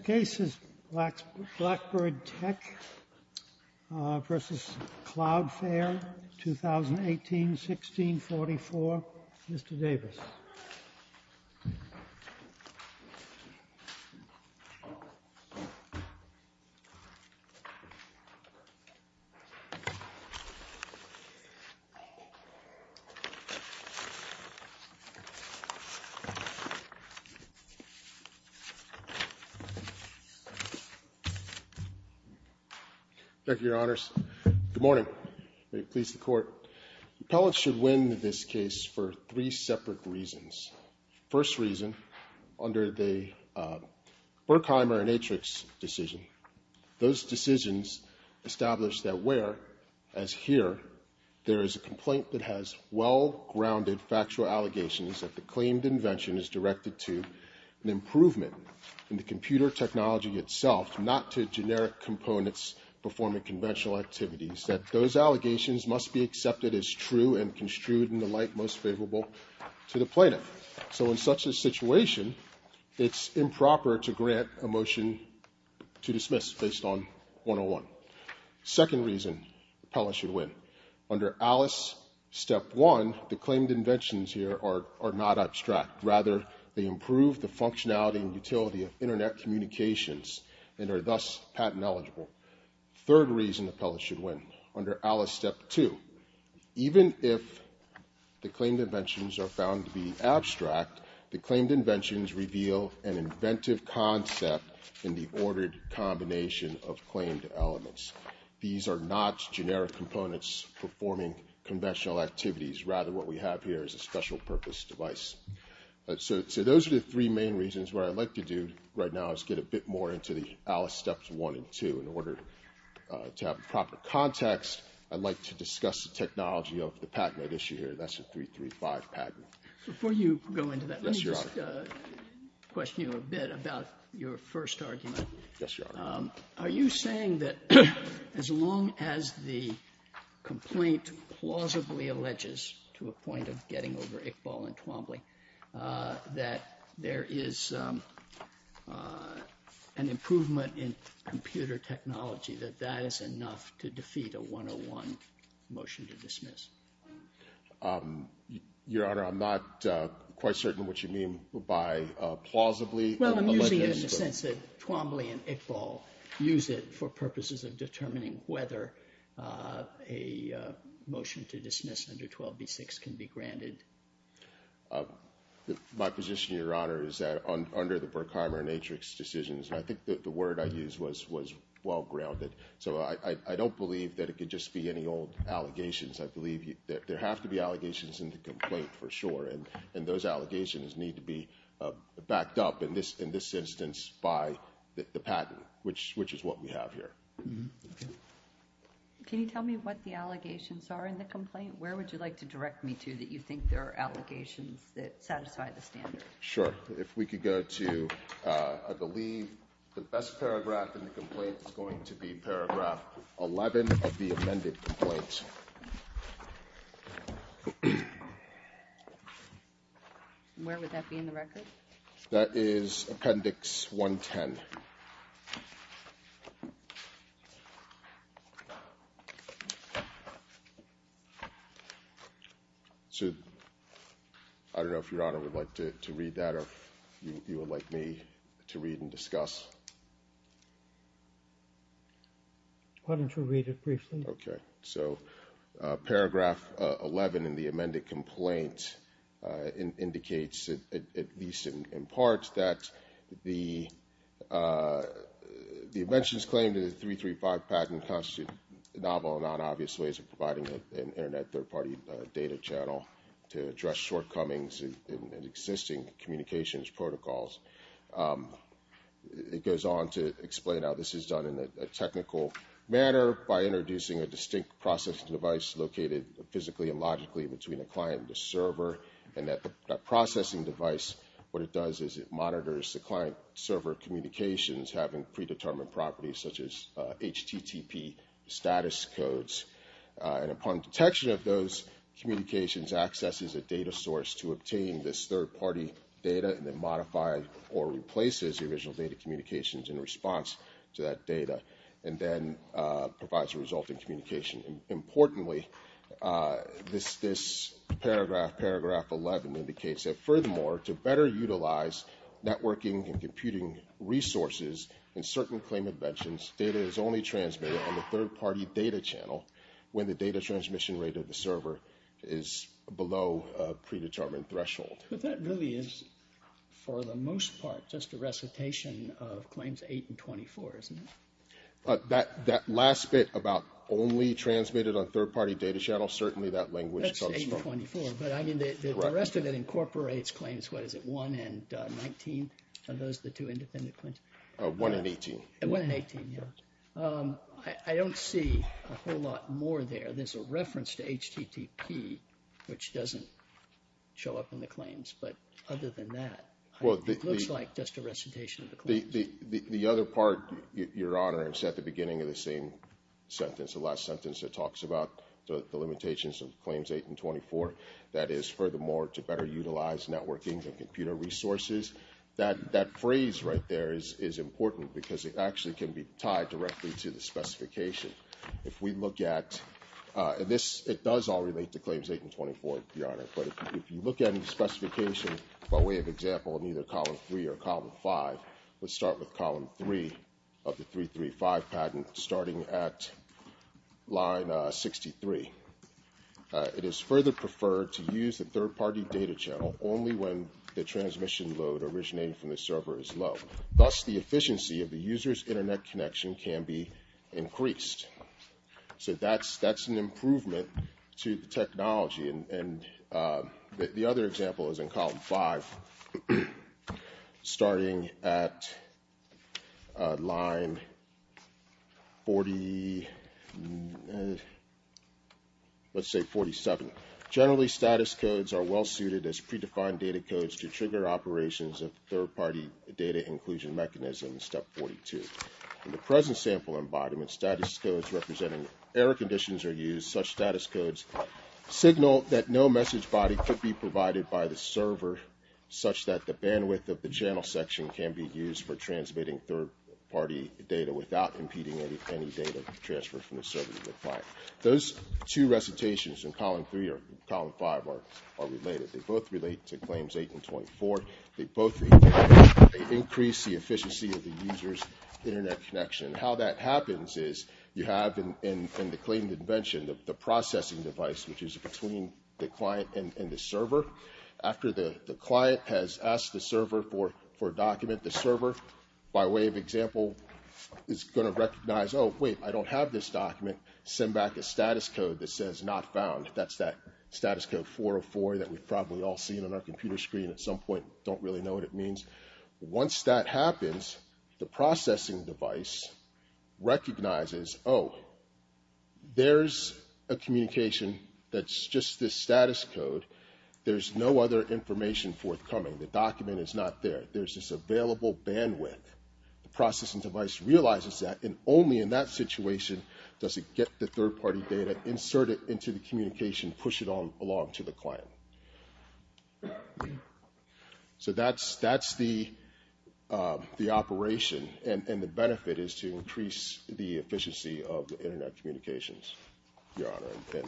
2018-16-44, Mr. Davis. Thank you, Your Honors. Good morning. The appellate should win this case for three separate reasons. First reason, under the Berkheimer and Atrix decision. Those decisions establish that where, as here, there is a complaint that has well-grounded factual allegations that the claimed invention is directed to an improvement in the computer technology itself, not to generic components performing conventional activities. That those allegations must be accepted as true and construed in the light most favorable to the plaintiff. So in such a situation, it's improper to grant a motion to dismiss based on 101. Second reason, the appellate should win. Under Alice, step one, the claimed inventions here are not abstract. Rather, they improve the functionality and utility of Internet communications and are thus patent eligible. Third reason, the appellate should win. Under Alice, step two, even if the claimed inventions are found to be abstract, the claimed inventions reveal an inventive concept in the ordered combination of claimed elements. These are not generic components performing conventional activities. Rather, what we have here is a special purpose device. So those are the three main reasons. What I'd like to do right now is get a bit more into the Alice steps one and two. In order to have proper context, I'd like to discuss the technology of the patent I'd issue here. That's the 335 patent. Before you go into that, let me just question you a bit about your first argument. Yes, Your Honor. Are you saying that as long as the complaint plausibly alleges to a point of getting over Iqbal and Twombly, that there is an improvement in computer technology, that that is enough to defeat a 101 motion to dismiss? Your Honor, I'm not quite certain what you mean by plausibly alleges. Well, I'm using it in the sense that Twombly and Iqbal use it for purposes of determining whether a motion to dismiss under 12b-6 can be granted. My position, Your Honor, is that under the Berkheimer and Atrix decisions, I think that the word I used was well-grounded. So I don't believe that it could just be any old allegations. I believe that there have to be allegations in the complaint for sure, and those allegations need to be backed up in this instance by the patent, which is what we have here. Can you tell me what the allegations are in the complaint? Where would you like to direct me to that you think there are allegations that satisfy the standard? Sure. If we could go to, I believe, the best paragraph in the complaint is going to be paragraph 11 of the amended complaint. Where would that be in the record? That is appendix 110. So I don't know if Your Honor would like to read that or if you would like me to read and discuss. Why don't you read it briefly? Okay. So paragraph 11 in the amended complaint indicates, at least in part, that the inventions claimed in the 335 patent constitute novel and non-obvious ways of providing an Internet third-party data channel to address shortcomings in existing communications protocols. It goes on to explain how this is done in a technical manner by introducing a distinct processing device located physically and logically between a client and a server. And that processing device, what it does is it monitors the client-server communications having predetermined properties such as HTTP status codes. And upon detection of those communications, it accesses a data source to obtain this third-party data and then modifies or replaces the original data communications in response to that data and then provides a resulting communication. Importantly, this paragraph, paragraph 11, indicates that, furthermore, to better utilize networking and computing resources in certain claim inventions, data is only transmitted on the third-party data channel when the data transmission rate of the server is below a predetermined threshold. But that really is, for the most part, just a recitation of Claims 8 and 24, isn't it? That last bit about only transmitted on third-party data channels, certainly that language comes from. That's 8 and 24, but I mean the rest of it incorporates Claims, what is it, 1 and 19? Are those the two independent claims? 1 and 18. 1 and 18, yes. I don't see a whole lot more there. There's a reference to HTTP, which doesn't show up in the claims. But other than that, it looks like just a recitation of the claims. The other part, Your Honor, is at the beginning of the same sentence, the last sentence that talks about the limitations of Claims 8 and 24, that is, furthermore, to better utilize networking and computer resources. That phrase right there is important because it actually can be tied directly to the specification. If we look at this, it does all relate to Claims 8 and 24, Your Honor, but if you look at the specification by way of example in either Column 3 or Column 5, let's start with Column 3 of the 335 patent, starting at line 63. It is further preferred to use a third-party data channel only when the transmission load originating from the server is low. Thus, the efficiency of the user's Internet connection can be increased. So that's an improvement to the technology. The other example is in Column 5, starting at line 40, let's say 47. Generally, status codes are well-suited as predefined data codes to trigger operations of third-party data inclusion mechanisms, Step 42. In the present sample embodiment, status codes representing error conditions are used. Such status codes signal that no message body could be provided by the server, such that the bandwidth of the channel section can be used for transmitting third-party data without impeding any data transfer from the server to the client. Those two recitations in Column 3 or Column 5 are related. They both relate to Claims 8 and 24. They both increase the efficiency of the user's Internet connection. How that happens is you have in the claimed invention the processing device, which is between the client and the server. After the client has asked the server for a document, the server, by way of example, is going to recognize, oh, wait, I don't have this document, send back a status code that says not found. That's that status code 404 that we've probably all seen on our computer screen at some point, don't really know what it means. Once that happens, the processing device recognizes, oh, there's a communication that's just this status code. There's no other information forthcoming. The document is not there. There's this available bandwidth. The processing device realizes that, and only in that situation does it get the third-party data, insert it into the communication, push it along to the client. So that's the operation. And the benefit is to increase the efficiency of the Internet communications, Your Honor.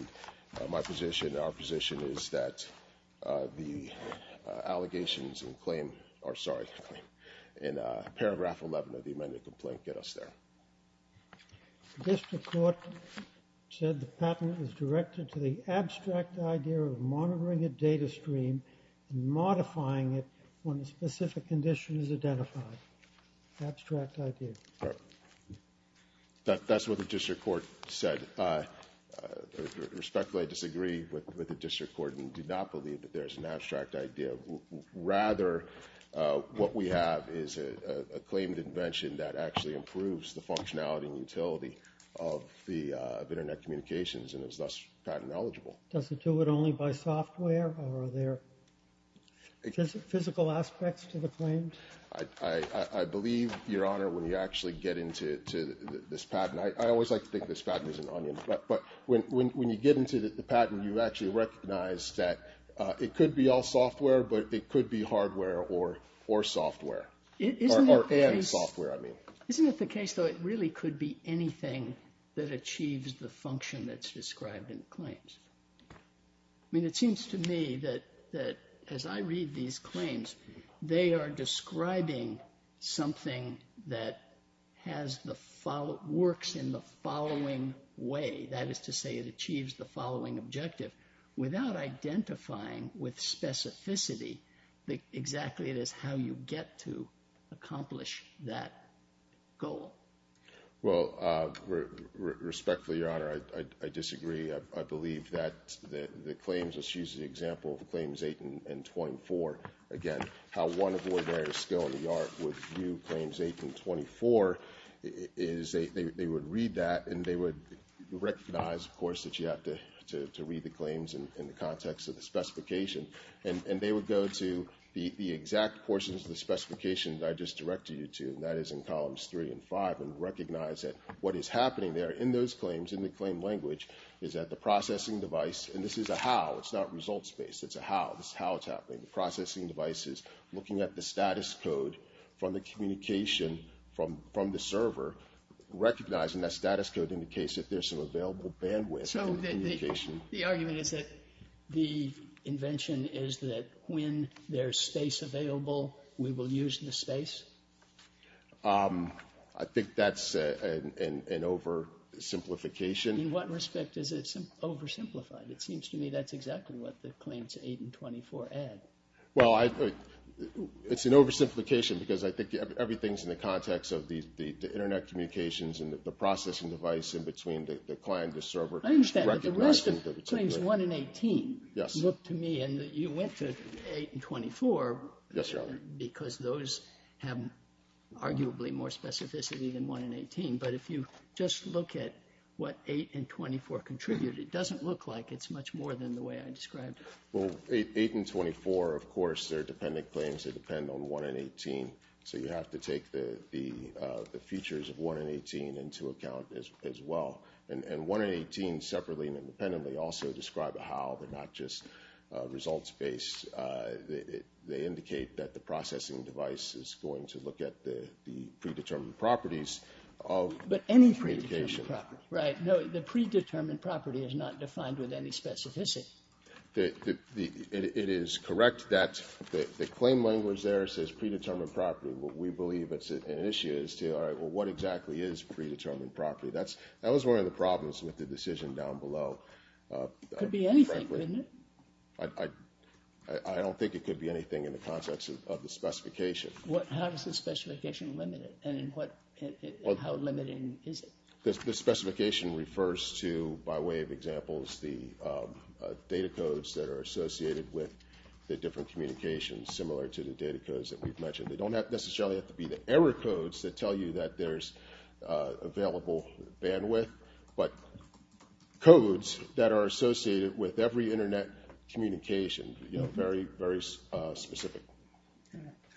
And my position, our position, is that the allegations and claim, or sorry, in paragraph 11 of the amended complaint, get us there. The district court said the patent is directed to the abstract idea of monitoring a data stream and modifying it when a specific condition is identified. Abstract idea. That's what the district court said. Respectfully, I disagree with the district court and do not believe that there's an abstract idea. Rather, what we have is a claimed invention that actually improves the functionality and utility of the Internet communications and is thus patent eligible. Does it do it only by software, or are there physical aspects to the claims? I believe, Your Honor, when you actually get into this patent, I always like to think this patent is an onion. But when you get into the patent, you actually recognize that it could be all software, but it could be hardware or software. Or software, I mean. Isn't it the case, though, it really could be anything that achieves the function that's described in the claims? I mean, it seems to me that as I read these claims, they are describing something that works in the following way. That is to say, it achieves the following objective without identifying with specificity exactly how you get to accomplish that goal. Well, respectfully, Your Honor, I disagree. I believe that the claims, let's use the example of Claims 8 and 24 again. How one ordinary skill in the art would view Claims 8 and 24 is they would read that and they would recognize, of course, that you have to read the claims in the context of the specification. And they would go to the exact portions of the specification that I just directed you to, and that is in columns 3 and 5, and recognize that what is happening there in those claims, in the claim language, is that the processing device, and this is a how, it's not results-based. It's a how. This is how it's happening. The processing device is looking at the status code from the communication from the server, recognizing that status code indicates that there's some available bandwidth in the communication. The argument is that the invention is that when there's space available, we will use the space? I think that's an oversimplification. In what respect is it oversimplified? It seems to me that's exactly what the Claims 8 and 24 add. Well, it's an oversimplification because I think everything's in the context of the Internet communications I understand, but the rest of Claims 1 and 18 look to me, and you went to 8 and 24, because those have arguably more specificity than 1 and 18, but if you just look at what 8 and 24 contribute, it doesn't look like it's much more than the way I described it. Well, 8 and 24, of course, they're dependent claims. They depend on 1 and 18, so you have to take the features of 1 and 18 into account as well. And 1 and 18 separately and independently also describe how they're not just results-based. They indicate that the processing device is going to look at the predetermined properties of communication. But any predetermined property, right? No, the predetermined property is not defined with any specificity. It is correct that the claim language there says predetermined property. We believe it's an issue as to, all right, well, what exactly is predetermined property? That was one of the problems with the decision down below. It could be anything, couldn't it? I don't think it could be anything in the context of the specification. How does the specification limit it, and how limiting is it? The specification refers to, by way of examples, the data codes that are associated with the different communications, similar to the data codes that we've mentioned. They don't necessarily have to be the error codes that tell you that there's available bandwidth, but codes that are associated with every Internet communication, you know, very, very specific.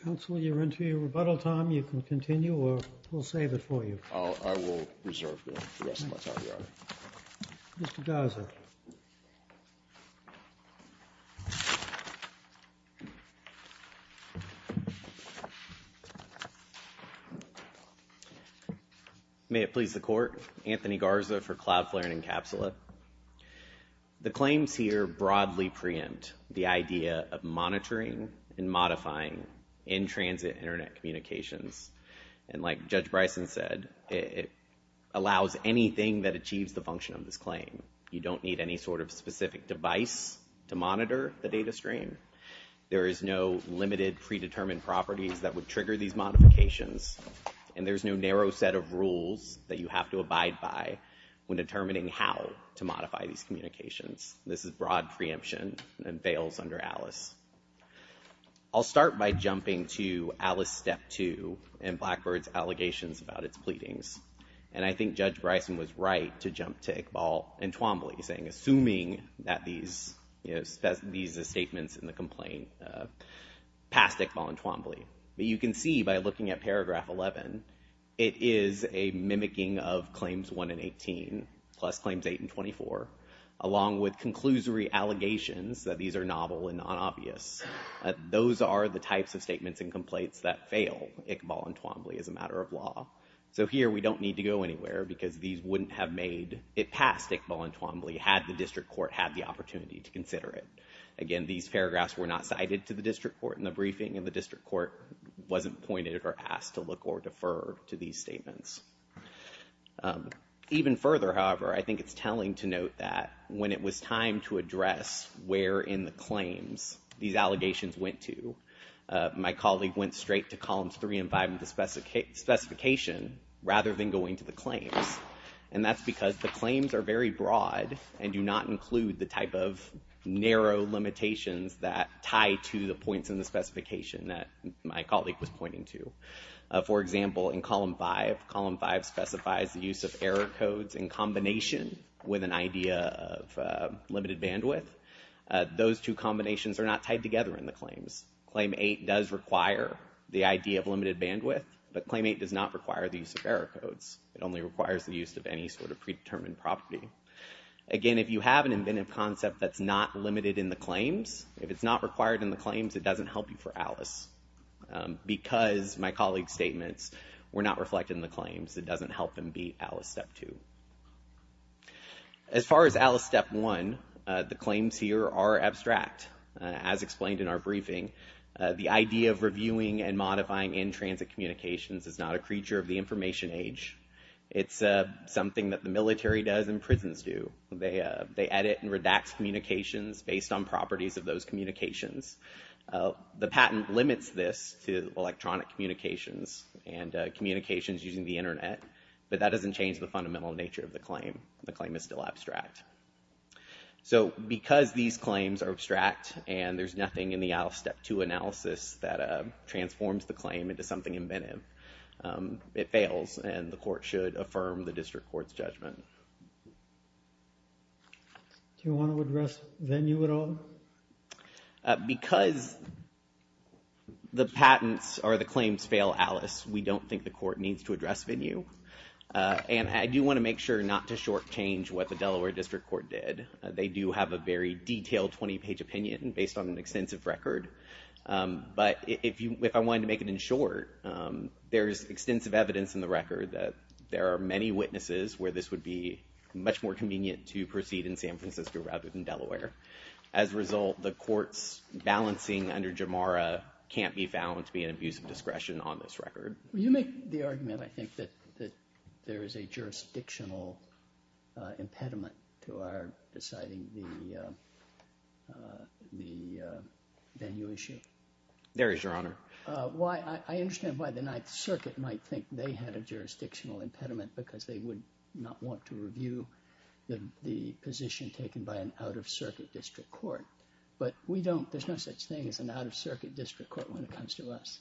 Counsel, you're into your rebuttal time. You can continue, or we'll save it for you. Mr. Garza. May it please the Court. Anthony Garza for CloudFlare and Encapsula. The claims here broadly preempt the idea of monitoring and modifying in-transit Internet communications, and like Judge Bryson said, it allows anything that achieves the function of this claim. You don't need any sort of specific device to monitor the data stream. There is no limited predetermined properties that would trigger these modifications, and there's no narrow set of rules that you have to abide by when determining how to modify these communications. This is broad preemption and bails under ALIS. I'll start by jumping to ALIS Step 2 and Blackbird's allegations about its pleadings, and I think Judge Bryson was right to jump to Iqbal and Twombly, saying assuming that these statements in the complaint passed Iqbal and Twombly, but you can see by looking at Paragraph 11, it is a mimicking of Claims 1 and 18, plus Claims 8 and 24, along with conclusory allegations that these are novel and non-obvious. Those are the types of statements and complaints that fail Iqbal and Twombly as a matter of law. So here we don't need to go anywhere because these wouldn't have made it passed Iqbal and Twombly had the district court had the opportunity to consider it. Again, these paragraphs were not cited to the district court in the briefing, and the district court wasn't appointed or asked to look or defer to these statements. Even further, however, I think it's telling to note that when it was time to address where in the claims these allegations went to, my colleague went straight to Columns 3 and 5 of the specification rather than going to the claims, and that's because the claims are very broad and do not include the type of narrow limitations that tie to the points in the specification that my colleague was pointing to. For example, in Column 5, Column 5 specifies the use of error codes in combination with an idea of limited bandwidth. Those two combinations are not tied together in the claims. Claim 8 does require the idea of limited bandwidth, but Claim 8 does not require the use of error codes. It only requires the use of any sort of predetermined property. Again, if you have an inventive concept that's not limited in the claims, if it's not required in the claims, it doesn't help you for Alice because my colleague's statements were not reflected in the claims. It doesn't help them beat Alice Step 2. As far as Alice Step 1, the claims here are abstract. As explained in our briefing, the idea of reviewing and modifying in-transit communications is not a creature of the information age. It's something that the military does and prisons do. They edit and redact communications based on properties of those communications. The patent limits this to electronic communications and communications using the Internet, but that doesn't change the fundamental nature of the claim. The claim is still abstract. Because these claims are abstract and there's nothing in the Alice Step 2 analysis that transforms the claim into something inventive, it fails and the court should affirm the district court's judgment. Do you want to address venue at all? Because the patents or the claims fail Alice, we don't think the court needs to address venue. And I do want to make sure not to shortchange what the Delaware District Court did. They do have a very detailed 20-page opinion based on an extensive record. But if I wanted to make it in short, there's extensive evidence in the record that there are many witnesses where this would be much more convenient to proceed in San Francisco rather than Delaware. As a result, the court's balancing under Jamara can't be found to be an abuse of discretion on this record. You make the argument, I think, that there is a jurisdictional impediment to our deciding the venue issue. There is, Your Honor. I understand why the Ninth Circuit might think they had a jurisdictional impediment because they would not want to review the position taken by an out-of-circuit district court. But there's no such thing as an out-of-circuit district court when it comes to us.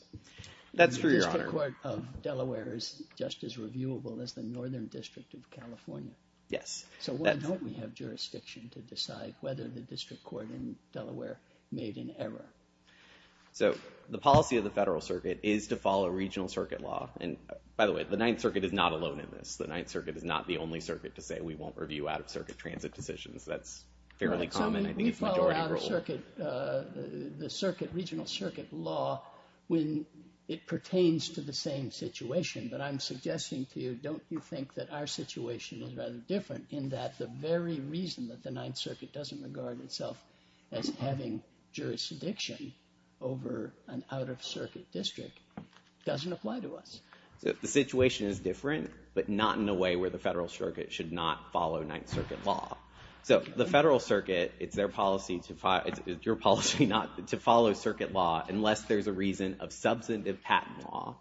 That's true, Your Honor. The district court of Delaware is just as reviewable as the Northern District of California. Yes. So why don't we have jurisdiction to decide whether the district court in Delaware made an error? So the policy of the Federal Circuit is to follow regional circuit law. And by the way, the Ninth Circuit is not alone in this. The Ninth Circuit is not the only circuit to say we won't review out-of-circuit transit decisions. That's fairly common. I think it's majority rule. So we follow out-of-circuit, the regional circuit law when it pertains to the same situation. But I'm suggesting to you, don't you think that our situation is rather different in that the very reason that the Ninth Circuit doesn't regard itself as having jurisdiction over an out-of-circuit district doesn't apply to us? The situation is different, but not in a way where the Federal Circuit should not follow Ninth Circuit law. So the Federal Circuit, it's their policy to follow circuit law unless there's a reason of substantive patent law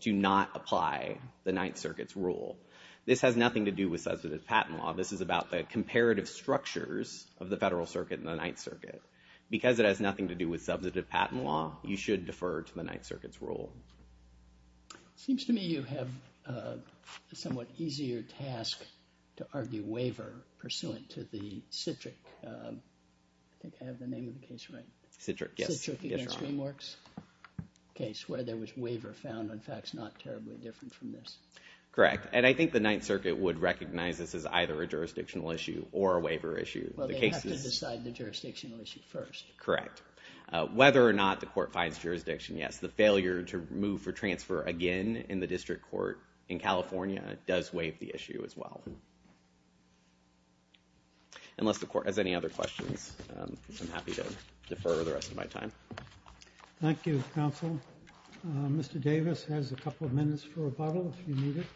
to not apply the Ninth Circuit's rule. This has nothing to do with substantive patent law. This is about the comparative structures of the Federal Circuit and the Ninth Circuit. Because it has nothing to do with substantive patent law, you should defer to the Ninth Circuit's rule. It seems to me you have a somewhat easier task to argue waiver pursuant to the Citric... I think I have the name of the case right. Citric, yes. Citric against DreamWorks case where there was waiver found. In fact, it's not terribly different from this. Correct. And I think the Ninth Circuit would recognize this as either a jurisdictional issue or a waiver issue. Well, they have to decide the jurisdictional issue first. Correct. Whether or not the court finds jurisdiction, yes. The failure to move for transfer again in the district court in California does waive the issue as well. Unless the court has any other questions, I'm happy to defer the rest of my time. Thank you, counsel. Mr. Davis has a couple of minutes for rebuttal if you need it.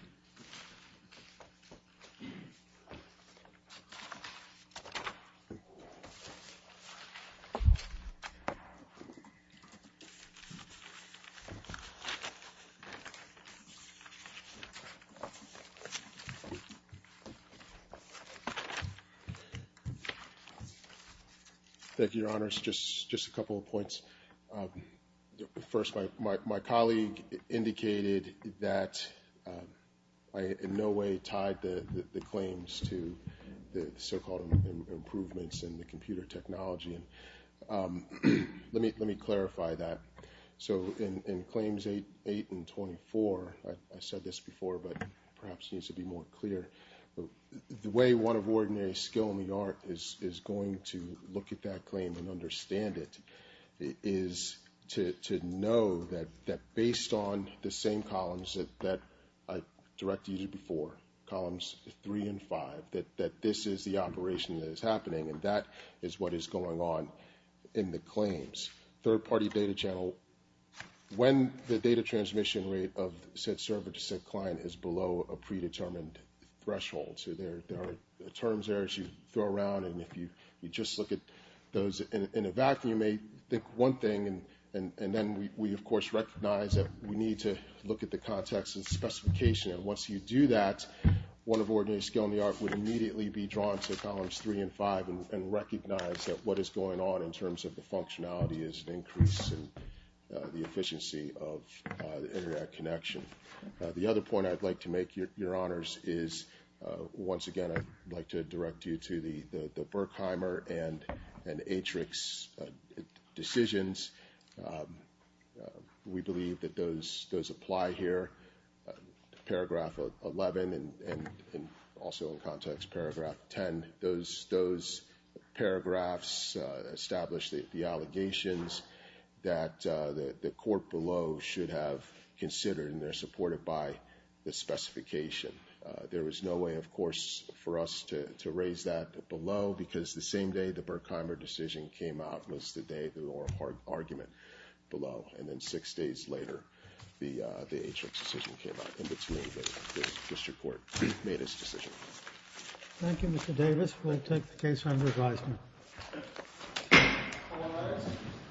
Thank you, Your Honors. Just a couple of points. First, my colleague indicated that I in no way tied the claims to the so-called improvements I think that's a good point. I think that's a good point. Let me clarify that. So in claims 8 and 24, I said this before, but perhaps it needs to be more clear. The way one of ordinary skill in the art is going to look at that claim and understand it is to know that based on the same columns that I directed you to before, columns 3 and 5, that this is the operation that is happening, and that is what is going on in the claims. Third-party data channel, when the data transmission rate of said server to said client is below a predetermined threshold, so there are terms there that you throw around, and if you just look at those in a vacuum, you may think one thing, and then we, of course, recognize that we need to look at the context and specification, and once you do that, one of ordinary skill in the art would immediately be drawn to columns 3 and 5 and recognize that what is going on in terms of the functionality is an increase in the efficiency of the Interact connection. The other point I'd like to make, Your Honors, is once again I'd like to direct you to the Berkheimer and Atrix decisions. We believe that those apply here, paragraph 11 and also in context paragraph 10. Those paragraphs establish the allegations that the court below should have considered, and they're supported by the specification. There was no way, of course, for us to raise that below because the same day the Berkheimer decision came out was the day of the oral argument below, and then 6 days later the Atrix decision came out in between the district court made its decision. Thank you, Mr. Davis. We'll take the case under advisement.